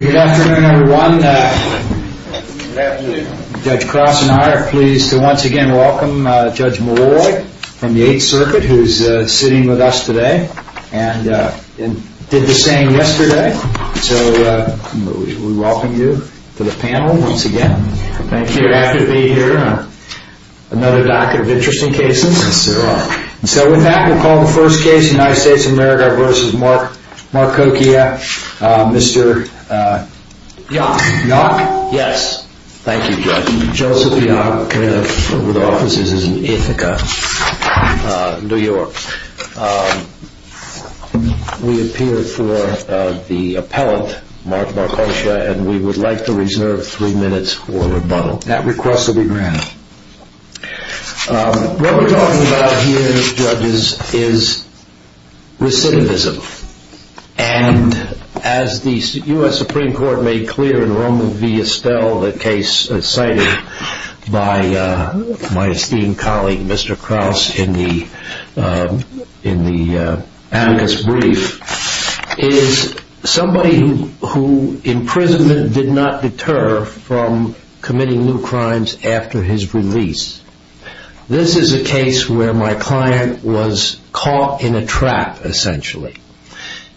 Good afternoon everyone. Judge Cross and I are pleased to once again welcome Judge Molloy from the Eighth Circuit who is sitting with us today and did the same yesterday. So we welcome you to the panel once again. Thank you for having me here. Another docket of interesting cases. So with that we will call the first case United States of America v. Marcoccia. Mr. Yock. Yes. Thank you Judge. Joseph Yock. We appear for the appellant Marcoccia and we would like to reserve three minutes for rebuttal. That request will be granted. What we are talking about here judges is recidivism and as the U.S. Supreme Court made clear in Roman v. Estelle the case cited by my esteemed colleague Mr. Cross in the brief is somebody who imprisonment did not deter from committing new crimes after his release. This is a case where my client was caught in a trap essentially.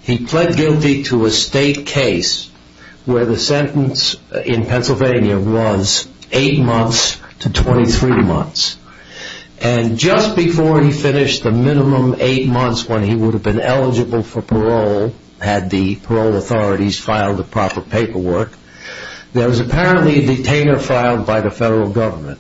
He pled guilty to a state case where the sentence in Pennsylvania was eight months to 23 months and just before he finished the minimum eight months when he would have been eligible for parole had the parole authorities filed the proper paperwork. There was apparently a detainer filed by the federal government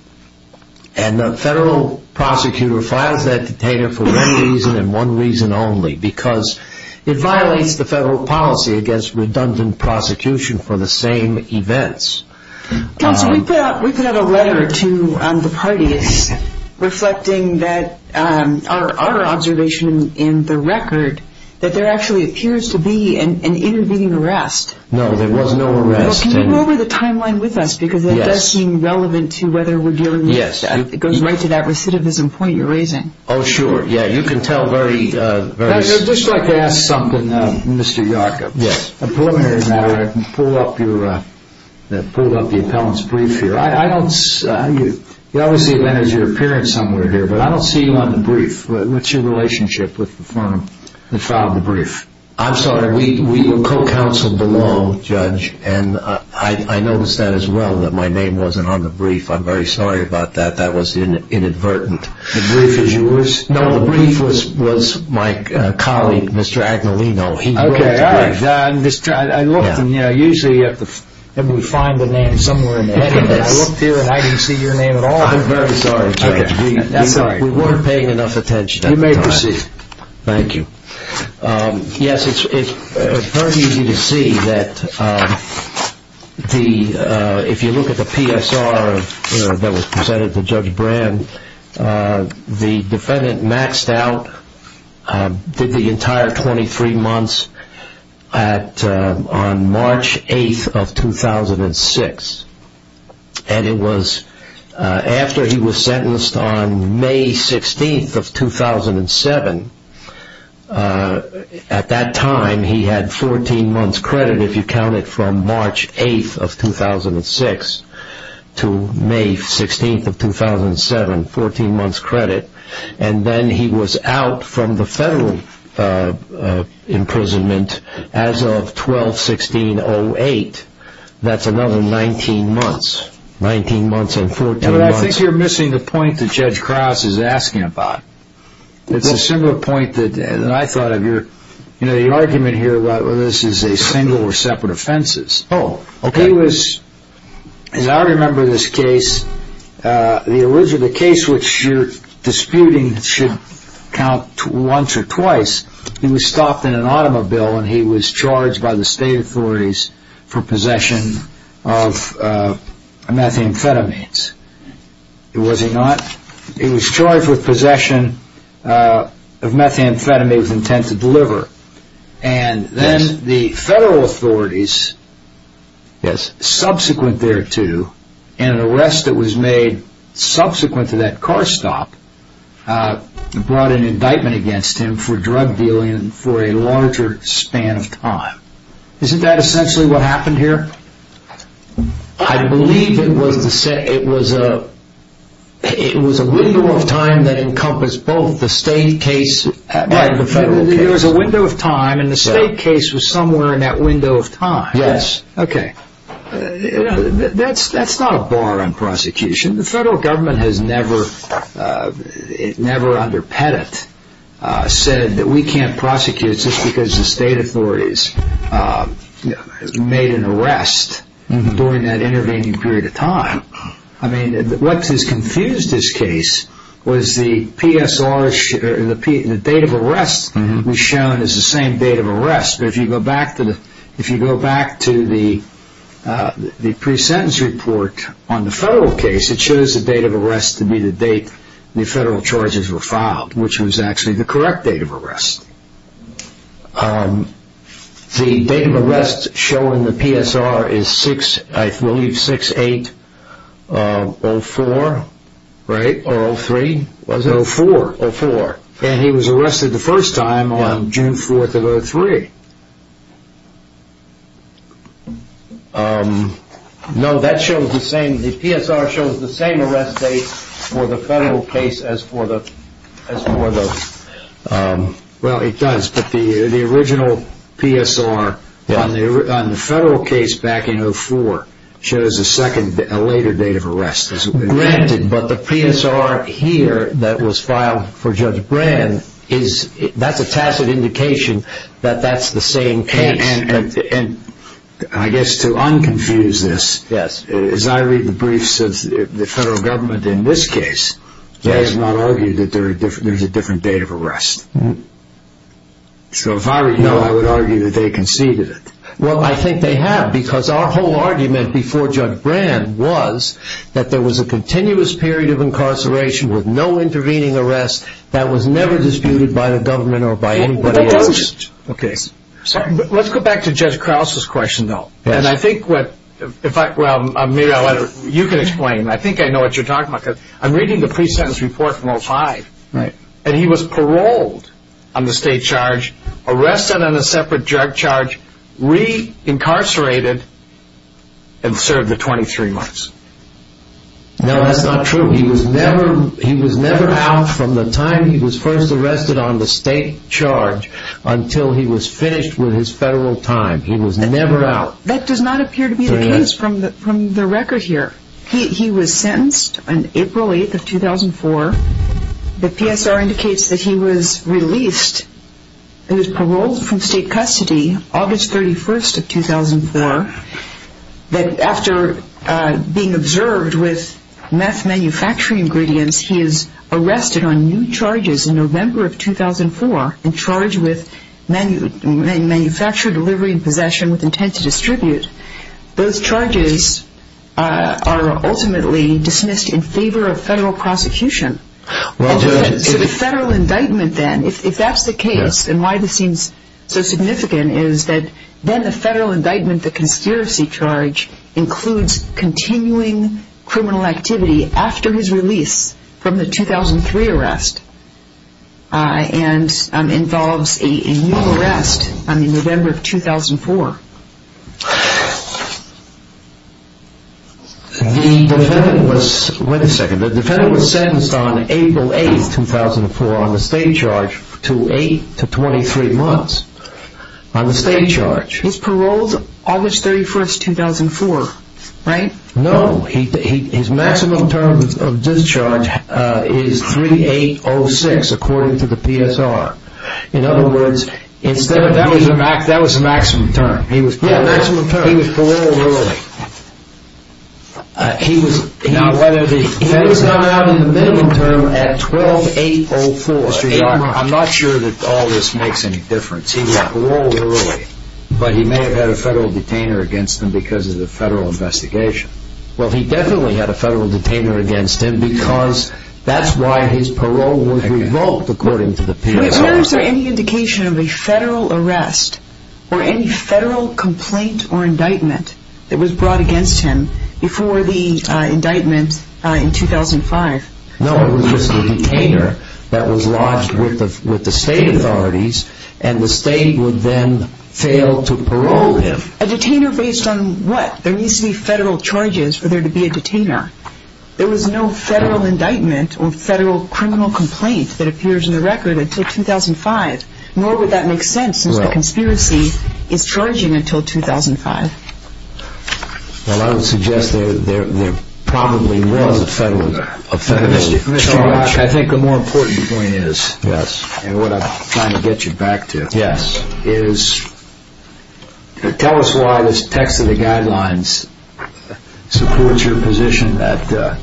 and the federal prosecutor files that detainer for one reason and one reason only because it violates the federal policy against redundant prosecution for the same events. Counsel we put out a letter to the parties reflecting that our observation in the record that there actually appears to be an intervening arrest. No there was no arrest. Can you go over the timeline with us because it does seem relevant to whether we are dealing with it. It goes right to that recidivism point you are raising. Oh sure yeah you can tell very. I would just like to ask something Mr. Yarkov. Yes. Pull up the appellant's brief here. I don't see you on the brief. What's your relationship with the firm that filed the brief? I'm sorry we co-counseled the law judge and I noticed that as well that my name wasn't on the brief. I'm very sorry about that. That was inadvertent. The brief was my colleague Mr. Agnellino. I looked and usually you have to find the name somewhere. I looked here and I didn't see your name at all. I'm very sorry. We weren't paying enough attention. You may proceed. Thank you. Yes it's very easy to see that if you look at the PSR that was presented to Judge Brand the defendant maxed out the entire 23 months on March 8th of 2006. And it was after he was sentenced on May 16th of 2007 at that time he had 14 months credit if you count it from March 8th of 2006 to May 16th of 2007 14 months credit. And then he was out from the federal imprisonment as of 12-16-08. That's another 19 months. 19 months and 14 months. I think you're missing the point that Judge Krause is asking about. It's a similar point that I thought of. You know the argument here whether this is a single or separate offenses. As I remember this case, the case which you're disputing should count once or twice. He was stopped in an automobile and he was charged by the state authorities for possession of methamphetamines. Was he not? He was charged with possession of methamphetamines with intent to deliver. And then the federal authorities subsequent thereto in an arrest that was made subsequent to that car stop brought an indictment against him for drug dealing for a larger span of time. Isn't that essentially what happened here? I believe it was a window of time that encompassed both the state case and the federal case. There was a window of time and the state case was somewhere in that window of time. That's not a bar on prosecution. The federal government has never under Pettit said that we can't prosecute just because the state authorities made an arrest during that intervening period of time. What has confused this case was the date of arrest was shown as the same date of arrest. If you go back to the pre-sentence report on the federal case, it shows the date of arrest to be the date the federal charges were filed, which was actually the correct date of arrest. The date of arrest shown in the PSR is 06-08-04. And he was arrested the first time on June 4th of 03. No, the PSR shows the same arrest date for the federal case as for those. Well, it does. But the original PSR on the federal case back in 04 shows a later date of arrest. Granted, but the PSR here that was filed for Judge Brand, that's a tacit indication that that's the same case. And I guess to un-confuse this, as I read the briefs of the federal government in this case, they have not argued that there's a different date of arrest. So if I were you, I would argue that they conceded it. Well, I think they have because our whole argument before Judge Brand was that there was a continuous period of incarceration with no intervening arrest that was never disputed by the government or by anybody else. Let's go back to Judge Krause's question, though. I think I know what you're talking about. I'm reading the pre-sentence report from 05. And he was paroled on the state charge, arrested on a separate drug charge, re-incarcerated, and served the 23 months. No, that's not true. He was never out from the time he was first arrested on the state charge until he was finished with his federal time. He was never out. That does not appear to be the case from the record here. He was sentenced on April 8th of 2004. The PSR indicates that he was released and was paroled from state custody August 31st of 2004. But it does appear that after being observed with meth manufacturing ingredients, he is arrested on new charges in November of 2004 and charged with manufacture, delivery, and possession with intent to distribute. Those charges are ultimately dismissed in favor of federal prosecution. So the federal indictment then, if that's the case, and why this seems so significant, is that then the federal indictment, the conspiracy charge, includes continuing criminal activity after his release from the 2003 arrest and involves a new arrest in November of 2004. Wait a second. The defendant was sentenced on April 8th of 2004 on the state charge to 8 to 23 months on the state charge. He was paroled August 31st of 2004, right? No. His maximum term of discharge is 3806 according to the PSR. In other words, that was the maximum term. He was paroled early. He was not out in the minimum term at 12804. I'm not sure that all this makes any difference. He was paroled early. But he may have had a federal detainer against him because of the federal investigation. Well, he definitely had a federal detainer against him because that's why his parole was revoked according to the PSR. Was there any indication of a federal arrest or any federal complaint or indictment that was brought against him before the indictment in 2005? No, it was just a detainer that was lodged with the state authorities and the state would then fail to parole him. A detainer based on what? There needs to be federal charges for there to be a detainer. There was no federal indictment or federal criminal complaint that appears in the record until 2005. Nor would that make sense since the conspiracy is charging until 2005. Well, I would suggest there probably was a federal charge. Mr. Rock, I think the more important point is, and what I'm trying to get you back to, is tell us why this text of the guidelines supports your position that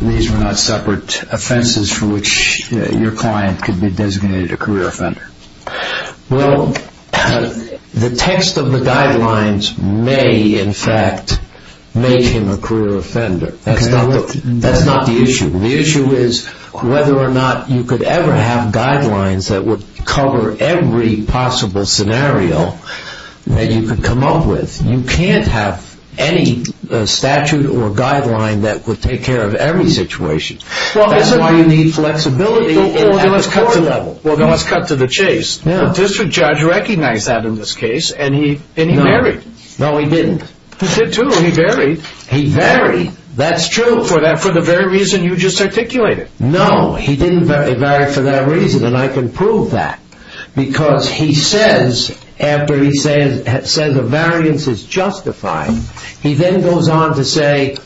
these were not separate offenses for which your client could be designated a career offender. Well, the text of the guidelines may in fact make him a career offender. That's not the issue. The issue is whether or not you could ever have guidelines that would cover every possible scenario that you could come up with. You can't have any statute or guideline that would take care of every situation. That's why you need flexibility at the court level. Well, let's cut to the chase. The district judge recognized that in this case and he married. No, he didn't. He did too. He married. He married. That's true. For the very reason you just articulated. No, he didn't marry for that reason and I can prove that. Because he says, after he says a variance is justified, he then goes on to say,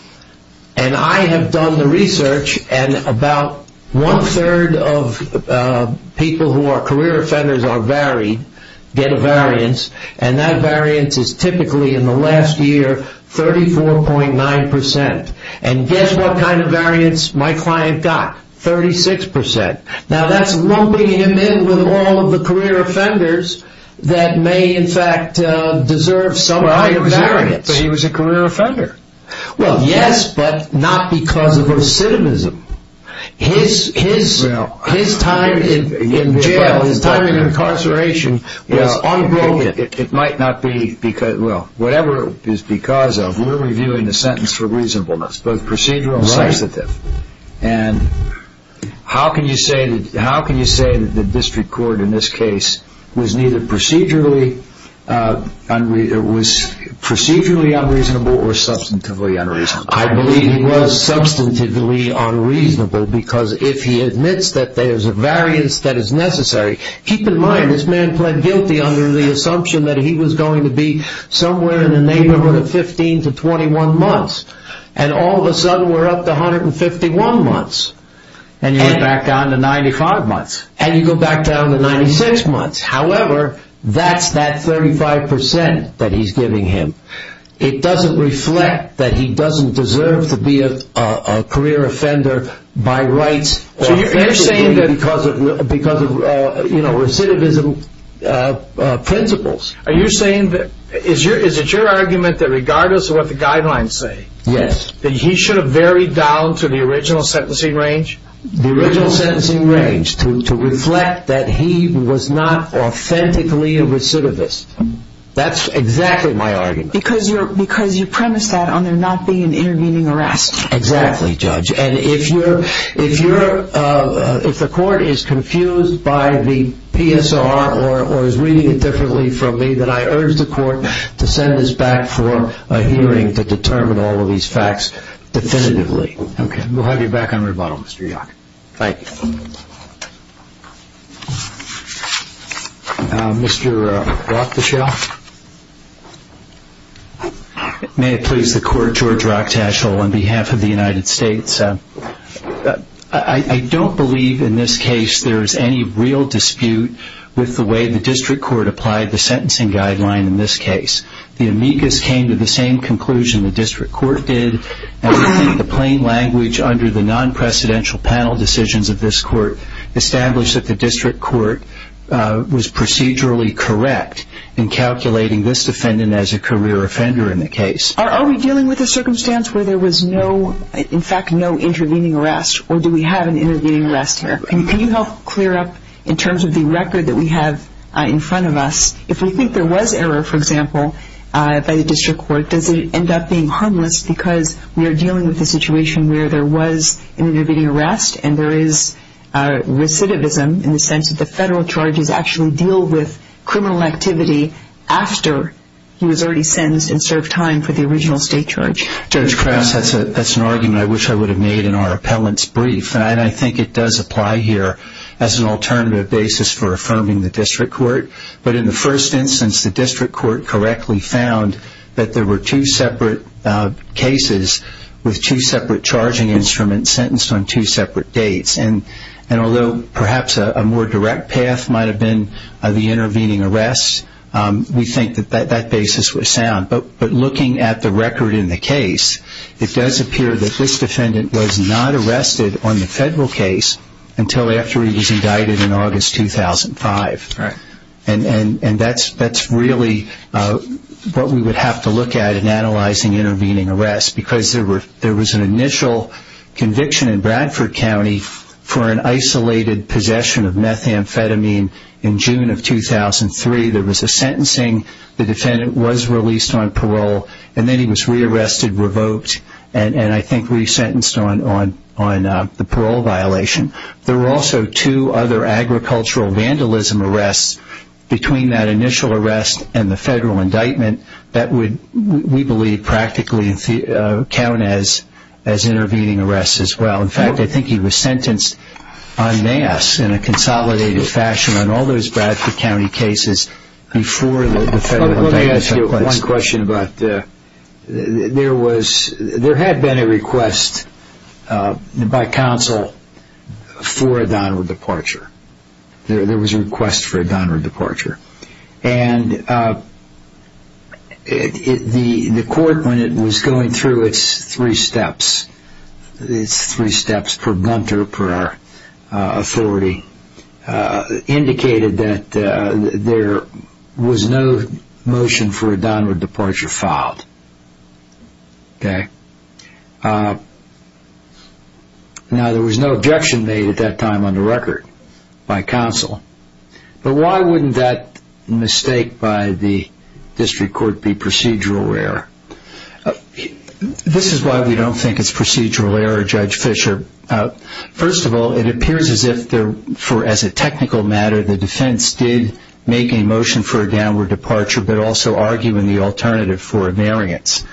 and I have done the research and about one third of people who are career offenders are married, get a variance, and that variance is typically in the last year 34.9%. And guess what kind of variance my client got? 36%. Now that's lumping him in with all of the career offenders that may in fact deserve some kind of variance. He was a career offender. Well, yes, but not because of recidivism. His time in jail, his time in incarceration was unbroken. Well, whatever it is because of, we're reviewing the sentence for reasonableness, both procedural and substantive. And how can you say that the district court in this case was procedurally unreasonable or substantively unreasonable? I believe it was substantively unreasonable because if he admits that there's a variance that is necessary, keep in mind this man pled guilty under the assumption that he was going to be somewhere in the neighborhood of 15 to 21 months. And all of a sudden we're up to 151 months. And you go back down to 95 months. And you go back down to 96 months. However, that's that 35% that he's giving him. It doesn't reflect that he doesn't deserve to be a career offender by rights or because of recidivism principles. Are you saying that, is it your argument that regardless of what the guidelines say, that he should have varied down to the original sentencing range? The original sentencing range to reflect that he was not authentically a recidivist. That's exactly my argument. Because you premise that on there not being an intervening arrest. Exactly, Judge. And if the court is confused by the PSR or is reading it differently from me, then I urge the court to send us back for a hearing to determine all of these facts definitively. Okay. We'll have you back on rebuttal, Mr. Yock. Thank you. Mr. Rochtaschel. May it please the court, George Rochtaschel on behalf of the United States. I don't believe in this case there is any real dispute with the way the district court applied the sentencing guideline in this case. The amicus came to the same conclusion the district court did. And we think the plain language under the non-precedential panel decisions of this court established that the district court was procedurally correct in calculating this defendant as a career offender in the case. Are we dealing with a circumstance where there was no, in fact, no intervening arrest? Or do we have an intervening arrest here? Can you help clear up in terms of the record that we have in front of us, if we think there was error, for example, by the district court, does it end up being harmless because we are dealing with a situation where there was an intervening arrest and there is recidivism in the sense that the federal charges actually deal with criminal activity after he was already sentenced and served time for the original state charge? Judge Krause, that's an argument I wish I would have made in our appellant's brief. And I think it does apply here as an alternative basis for affirming the district court. But in the first instance, the district court correctly found that there were two separate cases with two separate charging instruments sentenced on two separate dates. And although perhaps a more direct path might have been the intervening arrest, we think that that basis was sound. But looking at the record in the case, it does appear that this defendant was not arrested on the federal case until after he was indicted in August 2005. And that's really what we would have to look at in analyzing intervening arrests. Because there was an initial conviction in Bradford County for an isolated possession of methamphetamine in June of 2003. There was a sentencing. The defendant was released on parole. And then he was rearrested, revoked, and I think resentenced on the parole violation. There were also two other agricultural vandalism arrests between that initial arrest and the federal indictment that we believe practically count as intervening arrests as well. In fact, I think he was sentenced en masse in a consolidated fashion on all those Bradford County cases before the federal indictment took place. Let me ask you one question. There had been a request by counsel for a downward departure. There was a request for a downward departure. And the court, when it was going through its three steps, its three steps per bunter, per authority, indicated that there was no motion for a downward departure filed. Okay? Now, there was no objection made at that time on the record by counsel. But why wouldn't that mistake by the district court be procedural error? This is why we don't think it's procedural error, Judge Fischer. First of all, it appears as if, as a technical matter, the defense did make a motion for a downward departure but also argue in the alternative for a variance.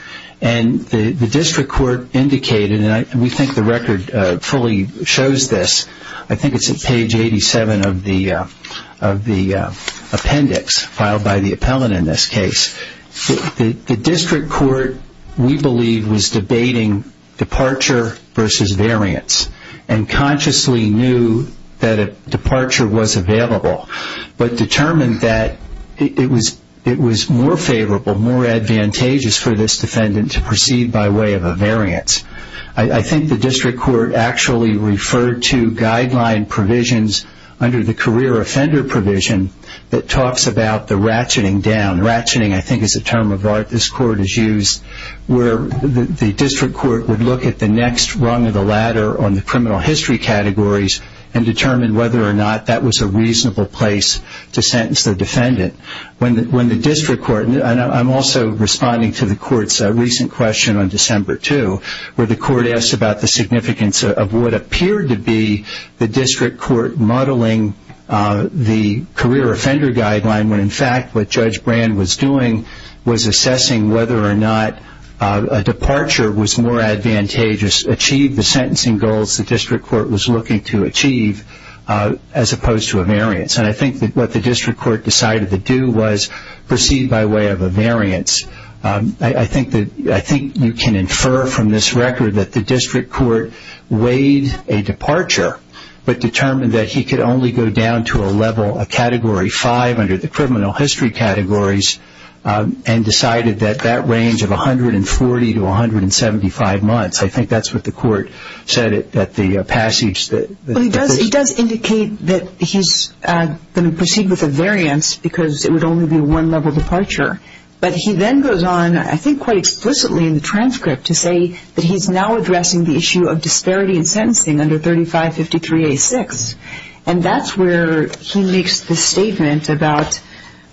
And the district court indicated, and we think the record fully shows this, I think it's at page 87 of the appendix filed by the appellant in this case. The district court, we believe, was debating departure versus variance and consciously knew that a departure was available. But determined that it was more favorable, more advantageous for this defendant to proceed by way of a variance. I think the district court actually referred to guideline provisions under the career offender provision that talks about the ratcheting down. Ratcheting, I think, is a term of art this court has used where the district court would look at the next rung of the ladder on the criminal history categories and determine whether or not that was a reasonable place to sentence the defendant. When the district court, and I'm also responding to the court's recent question on December 2, where the court asked about the significance of what appeared to be the district court modeling the career offender guideline, when in fact what Judge Brand was doing was assessing whether or not a departure was more advantageous, achieved the sentencing goals the district court was looking to achieve as opposed to a variance. I think what the district court decided to do was proceed by way of a variance. I think you can infer from this record that the district court weighed a departure but determined that he could only go down to a level, a category 5 under the criminal history categories and decided that that range of 140 to 175 months, I think that's what the court said at the passage. It does indicate that he's going to proceed with a variance because it would only be a one level departure. But he then goes on, I think quite explicitly in the transcript, to say that he's now addressing the issue of disparity in sentencing under 3553A6. And that's where he makes the statement about,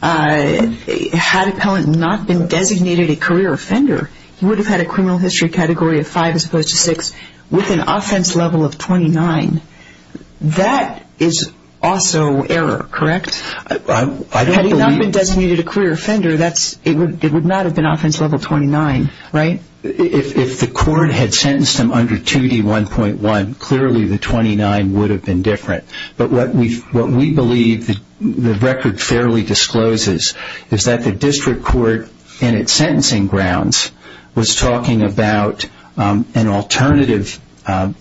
had Appellant not been designated a career offender, he would have had a criminal history category of 5 as opposed to 6 with an offense level of 29. That is also error, correct? Had he not been designated a career offender, it would not have been offense level 29, right? If the court had sentenced him under 2D1.1, clearly the 29 would have been different. But what we believe the record fairly discloses is that the district court in its sentencing grounds was talking about an alternative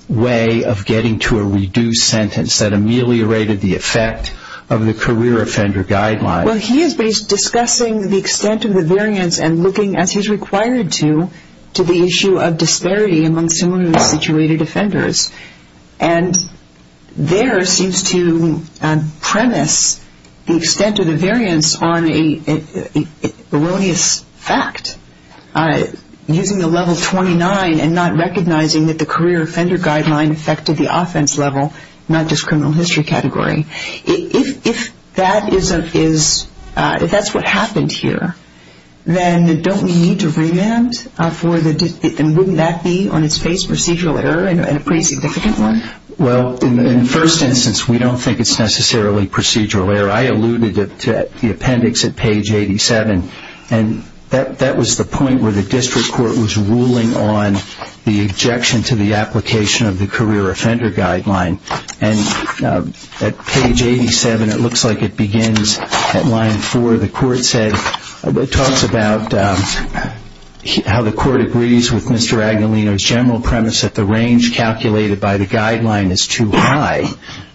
way of getting to a reduced sentence that ameliorated the effect of the career offender guideline. Well, he is discussing the extent of the variance and looking, as he's required to, to the issue of disparity among similarly situated offenders. And there seems to premise the extent of the variance on an erroneous fact, using the level 29 and not recognizing that the career offender guideline affected the offense level, not just criminal history category. If that's what happened here, then don't we need to remand? Wouldn't that be, on its face, procedural error and a pretty significant one? Well, in the first instance, we don't think it's necessarily procedural error. I alluded to the appendix at page 87, and that was the point where the district court was ruling on the objection to the application of the career offender guideline. And at page 87, it looks like it begins at line 4. The court talks about how the court agrees with Mr. Agnolino's general premise that the range calculated by the guideline is too high,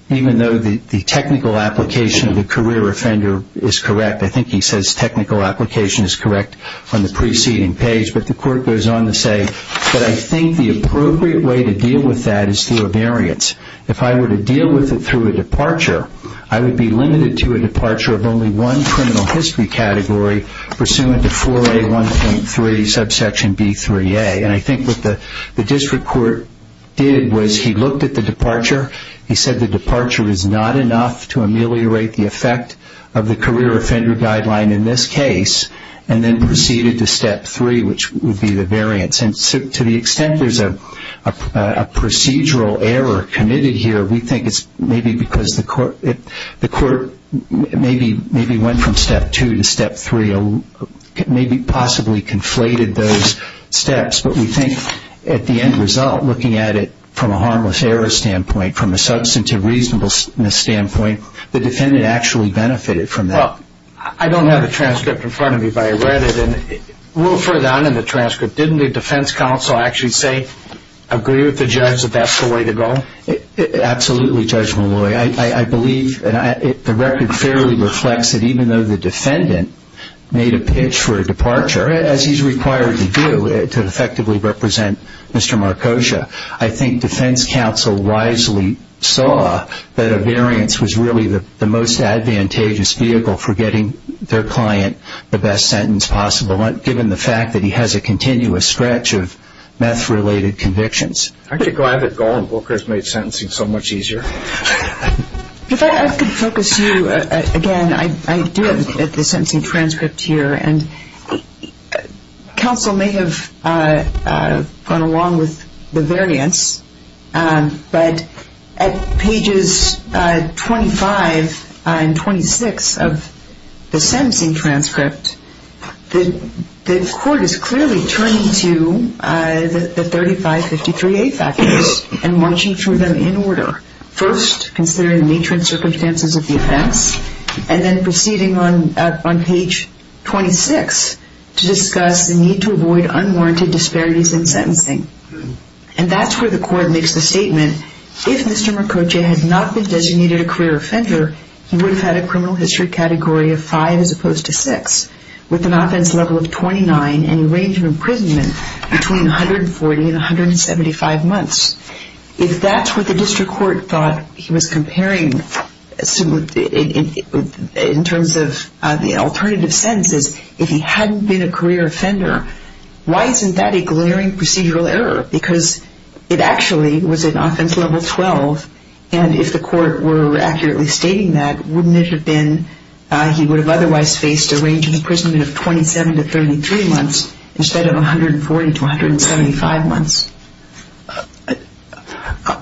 even though the technical application of the career offender is correct. I think he says technical application is correct on the preceding page. But the court goes on to say, but I think the appropriate way to deal with that is through a variance. If I were to deal with it through a departure, I would be limited to a departure of only one criminal history category pursuant to 4A1.3 subsection B3A. And I think what the district court did was he looked at the departure. He said the departure is not enough to ameliorate the effect of the career offender guideline in this case, and then proceeded to step 3, which would be the variance. And to the extent there's a procedural error committed here, we think it's maybe because the court maybe went from step 2 to step 3, maybe possibly conflated those steps. But we think at the end result, looking at it from a harmless error standpoint, from a substantive reasonableness standpoint, the defendant actually benefited from that. Well, I don't have the transcript in front of me, but I read it. A little further on in the transcript, didn't the defense counsel actually say, agree with the judge that that's the way to go? Absolutely, Judge Malloy. I believe the record fairly reflects that even though the defendant made a pitch for a departure, as he's required to do to effectively represent Mr. Marcosia, I think defense counsel wisely saw that a variance was really the most advantageous vehicle for getting their client the best sentence possible, given the fact that he has a continuous stretch of meth-related convictions. I'm glad that Golan Booker has made sentencing so much easier. If I could focus you again, I do have the sentencing transcript here. Counsel may have gone along with the variance, but at pages 25 and 26 of the sentencing transcript, the court is clearly turning to the 3553A factors and marching through them in order. First, considering the nature and circumstances of the offense, and then proceeding on page 26 to discuss the need to avoid unwarranted disparities in sentencing. And that's where the court makes the statement, if Mr. Marcosia had not been designated a career offender, he would have had a criminal history category of 5 as opposed to 6, with an offense level of 29 and a range of imprisonment between 140 and 175 months. If that's what the district court thought he was comparing, in terms of the alternative sentences, if he hadn't been a career offender, why isn't that a glaring procedural error? Because it actually was an offense level 12, and if the court were accurately stating that, wouldn't it have been he would have otherwise faced a range of imprisonment of 27 to 33 months, instead of 140 to 175 months.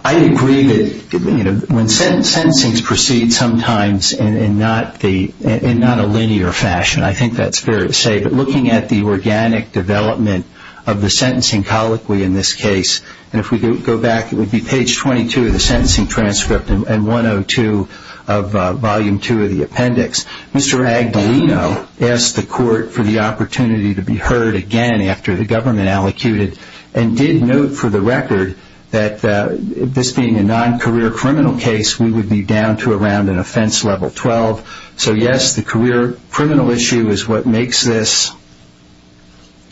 I agree that when sentencing proceeds sometimes in not a linear fashion, I think that's fair to say, but looking at the organic development of the sentencing colloquy in this case, and if we go back it would be page 22 of the sentencing transcript and 102 of volume 2 of the appendix. Mr. Agdalino asked the court for the opportunity to be heard again after the government allocated, and did note for the record that this being a non-career criminal case, we would be down to around an offense level 12. So yes, the career criminal issue is what makes this,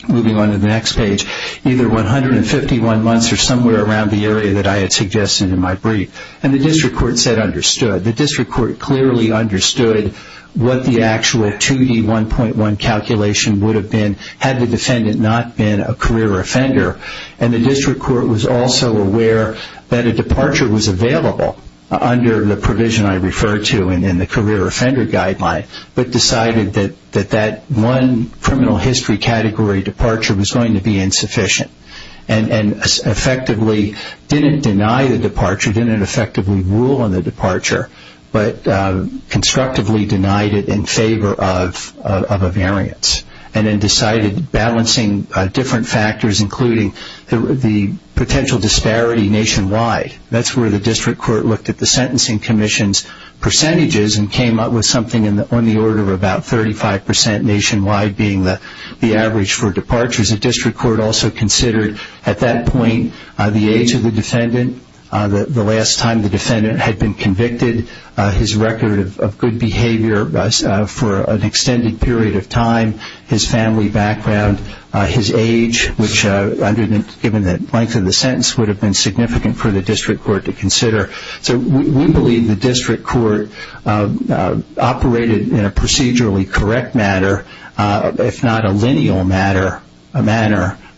moving on to the next page, either 151 months or somewhere around the area that I had suggested in my brief, and the district court said understood. The district court clearly understood what the actual 2D1.1 calculation would have been had the defendant not been a career offender, and the district court was also aware that a departure was available under the provision I referred to in the career offender guideline, but decided that that one criminal history category departure was going to be insufficient, and effectively didn't deny the departure, didn't effectively rule on the departure, but constructively denied it in favor of a variance, and then decided balancing different factors including the potential disparity nationwide. That's where the district court looked at the sentencing commission's percentages and came up with something on the order of about 35% nationwide being the average for departures. The district court also considered at that point the age of the defendant, the last time the defendant had been convicted, his record of good behavior for an extended period of time, his family background, his age, which given the length of the sentence would have been significant for the district court to consider. So we believe the district court operated in a procedurally correct manner, if not a lineal manner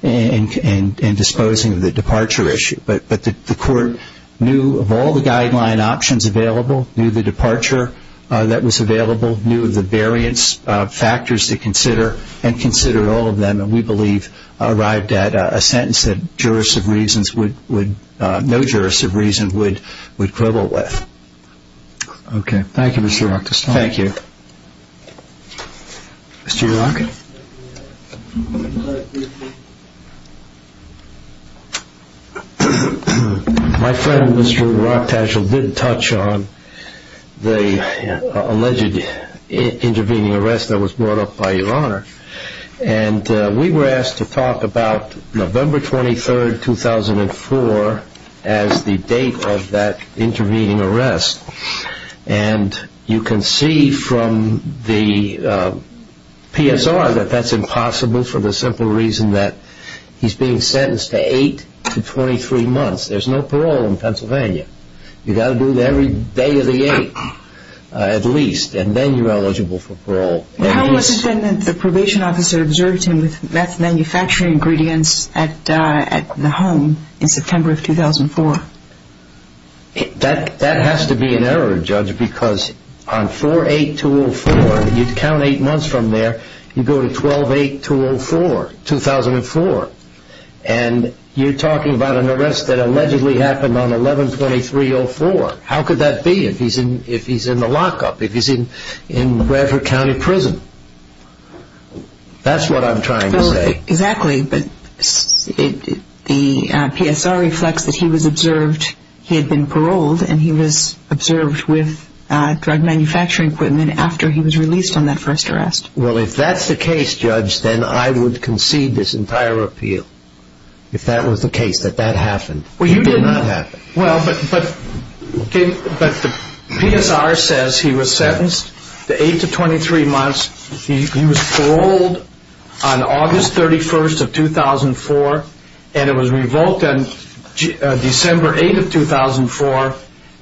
in disposing of the departure issue, but the court knew of all the guideline options available, knew the departure that was available, knew the variance factors to consider, and considered all of them, and we believe arrived at a sentence that no jurist of reason would quibble with. Okay. Thank you, Mr. Rockestone. Thank you. Mr. Rock? My friend, Mr. Rock Tashel, did touch on the alleged intervening arrest that was brought up by Your Honor, and we were asked to talk about November 23, 2004, as the date of that intervening arrest, and you can see from the PSR that that's impossible for the simple reason that he's being sentenced to 8 to 23 months. There's no parole in Pennsylvania. You've got to do it every day of the 8th at least, and then you're eligible for parole. The homeless defendant, the probation officer observed him with meth manufacturing ingredients at the home in September of 2004. That has to be an error, Judge, because on 4-8-2-0-4, you'd count 8 months from there, you go to 12-8-2-0-4, 2004, and you're talking about an arrest that allegedly happened on 11-23-04. How could that be if he's in the lockup, if he's in Bradford County Prison? That's what I'm trying to say. Exactly, but the PSR reflects that he was observed, he had been paroled, and he was observed with drug manufacturing equipment after he was released on that first arrest. Well, if that's the case, Judge, then I would concede this entire appeal, if that was the case, that that happened. It did not happen. Well, but the PSR says he was sentenced to 8-23 months, he was paroled on August 31st of 2004, and it was revoked on December 8th of 2004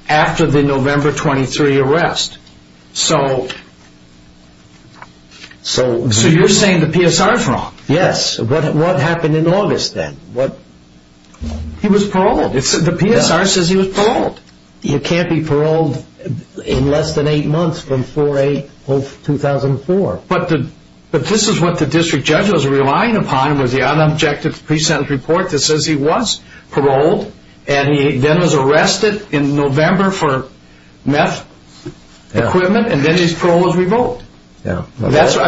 after the November 23 arrest. So you're saying the PSR is wrong? Yes. What happened in August then? He was paroled. The PSR says he was paroled. You can't be paroled in less than 8 months from 4-8-0-2-0-4. But this is what the district judge was relying upon was the unobjective pre-sentence report that says he was paroled, and he then was arrested in November for meth equipment, and then his parole was revoked. I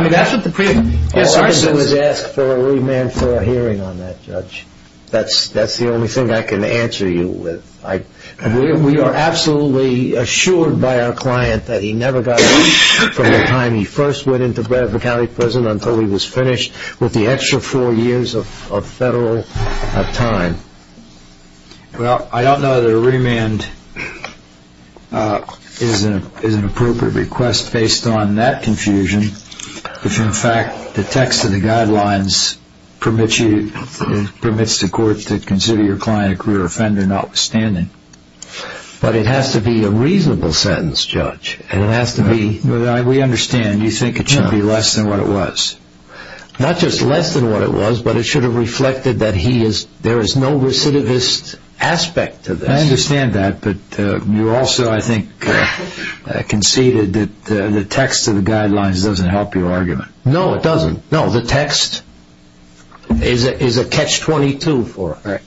mean, that's what the PSR says. All I did was ask for a remand for a hearing on that, Judge. That's the only thing I can answer you with. We are absolutely assured by our client that he never got released from the time he first went into Bradford County Prison until he was finished with the extra four years of federal time. Well, I don't know that a remand is an appropriate request based on that confusion, which in fact the text of the guidelines permits the court to consider your client a career offender notwithstanding. But it has to be a reasonable sentence, Judge. We understand. You think it should be less than what it was. Not just less than what it was, but it should have reflected that there is no recidivist aspect to this. I understand that, but you also, I think, conceded that the text of the guidelines doesn't help your argument. No, it doesn't. No, the text is a catch-22 for it.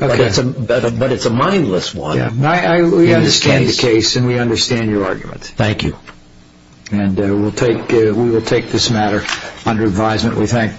But it's a mindless one. We understand the case, and we understand your argument. Thank you. And we will take this matter under advisement, we think.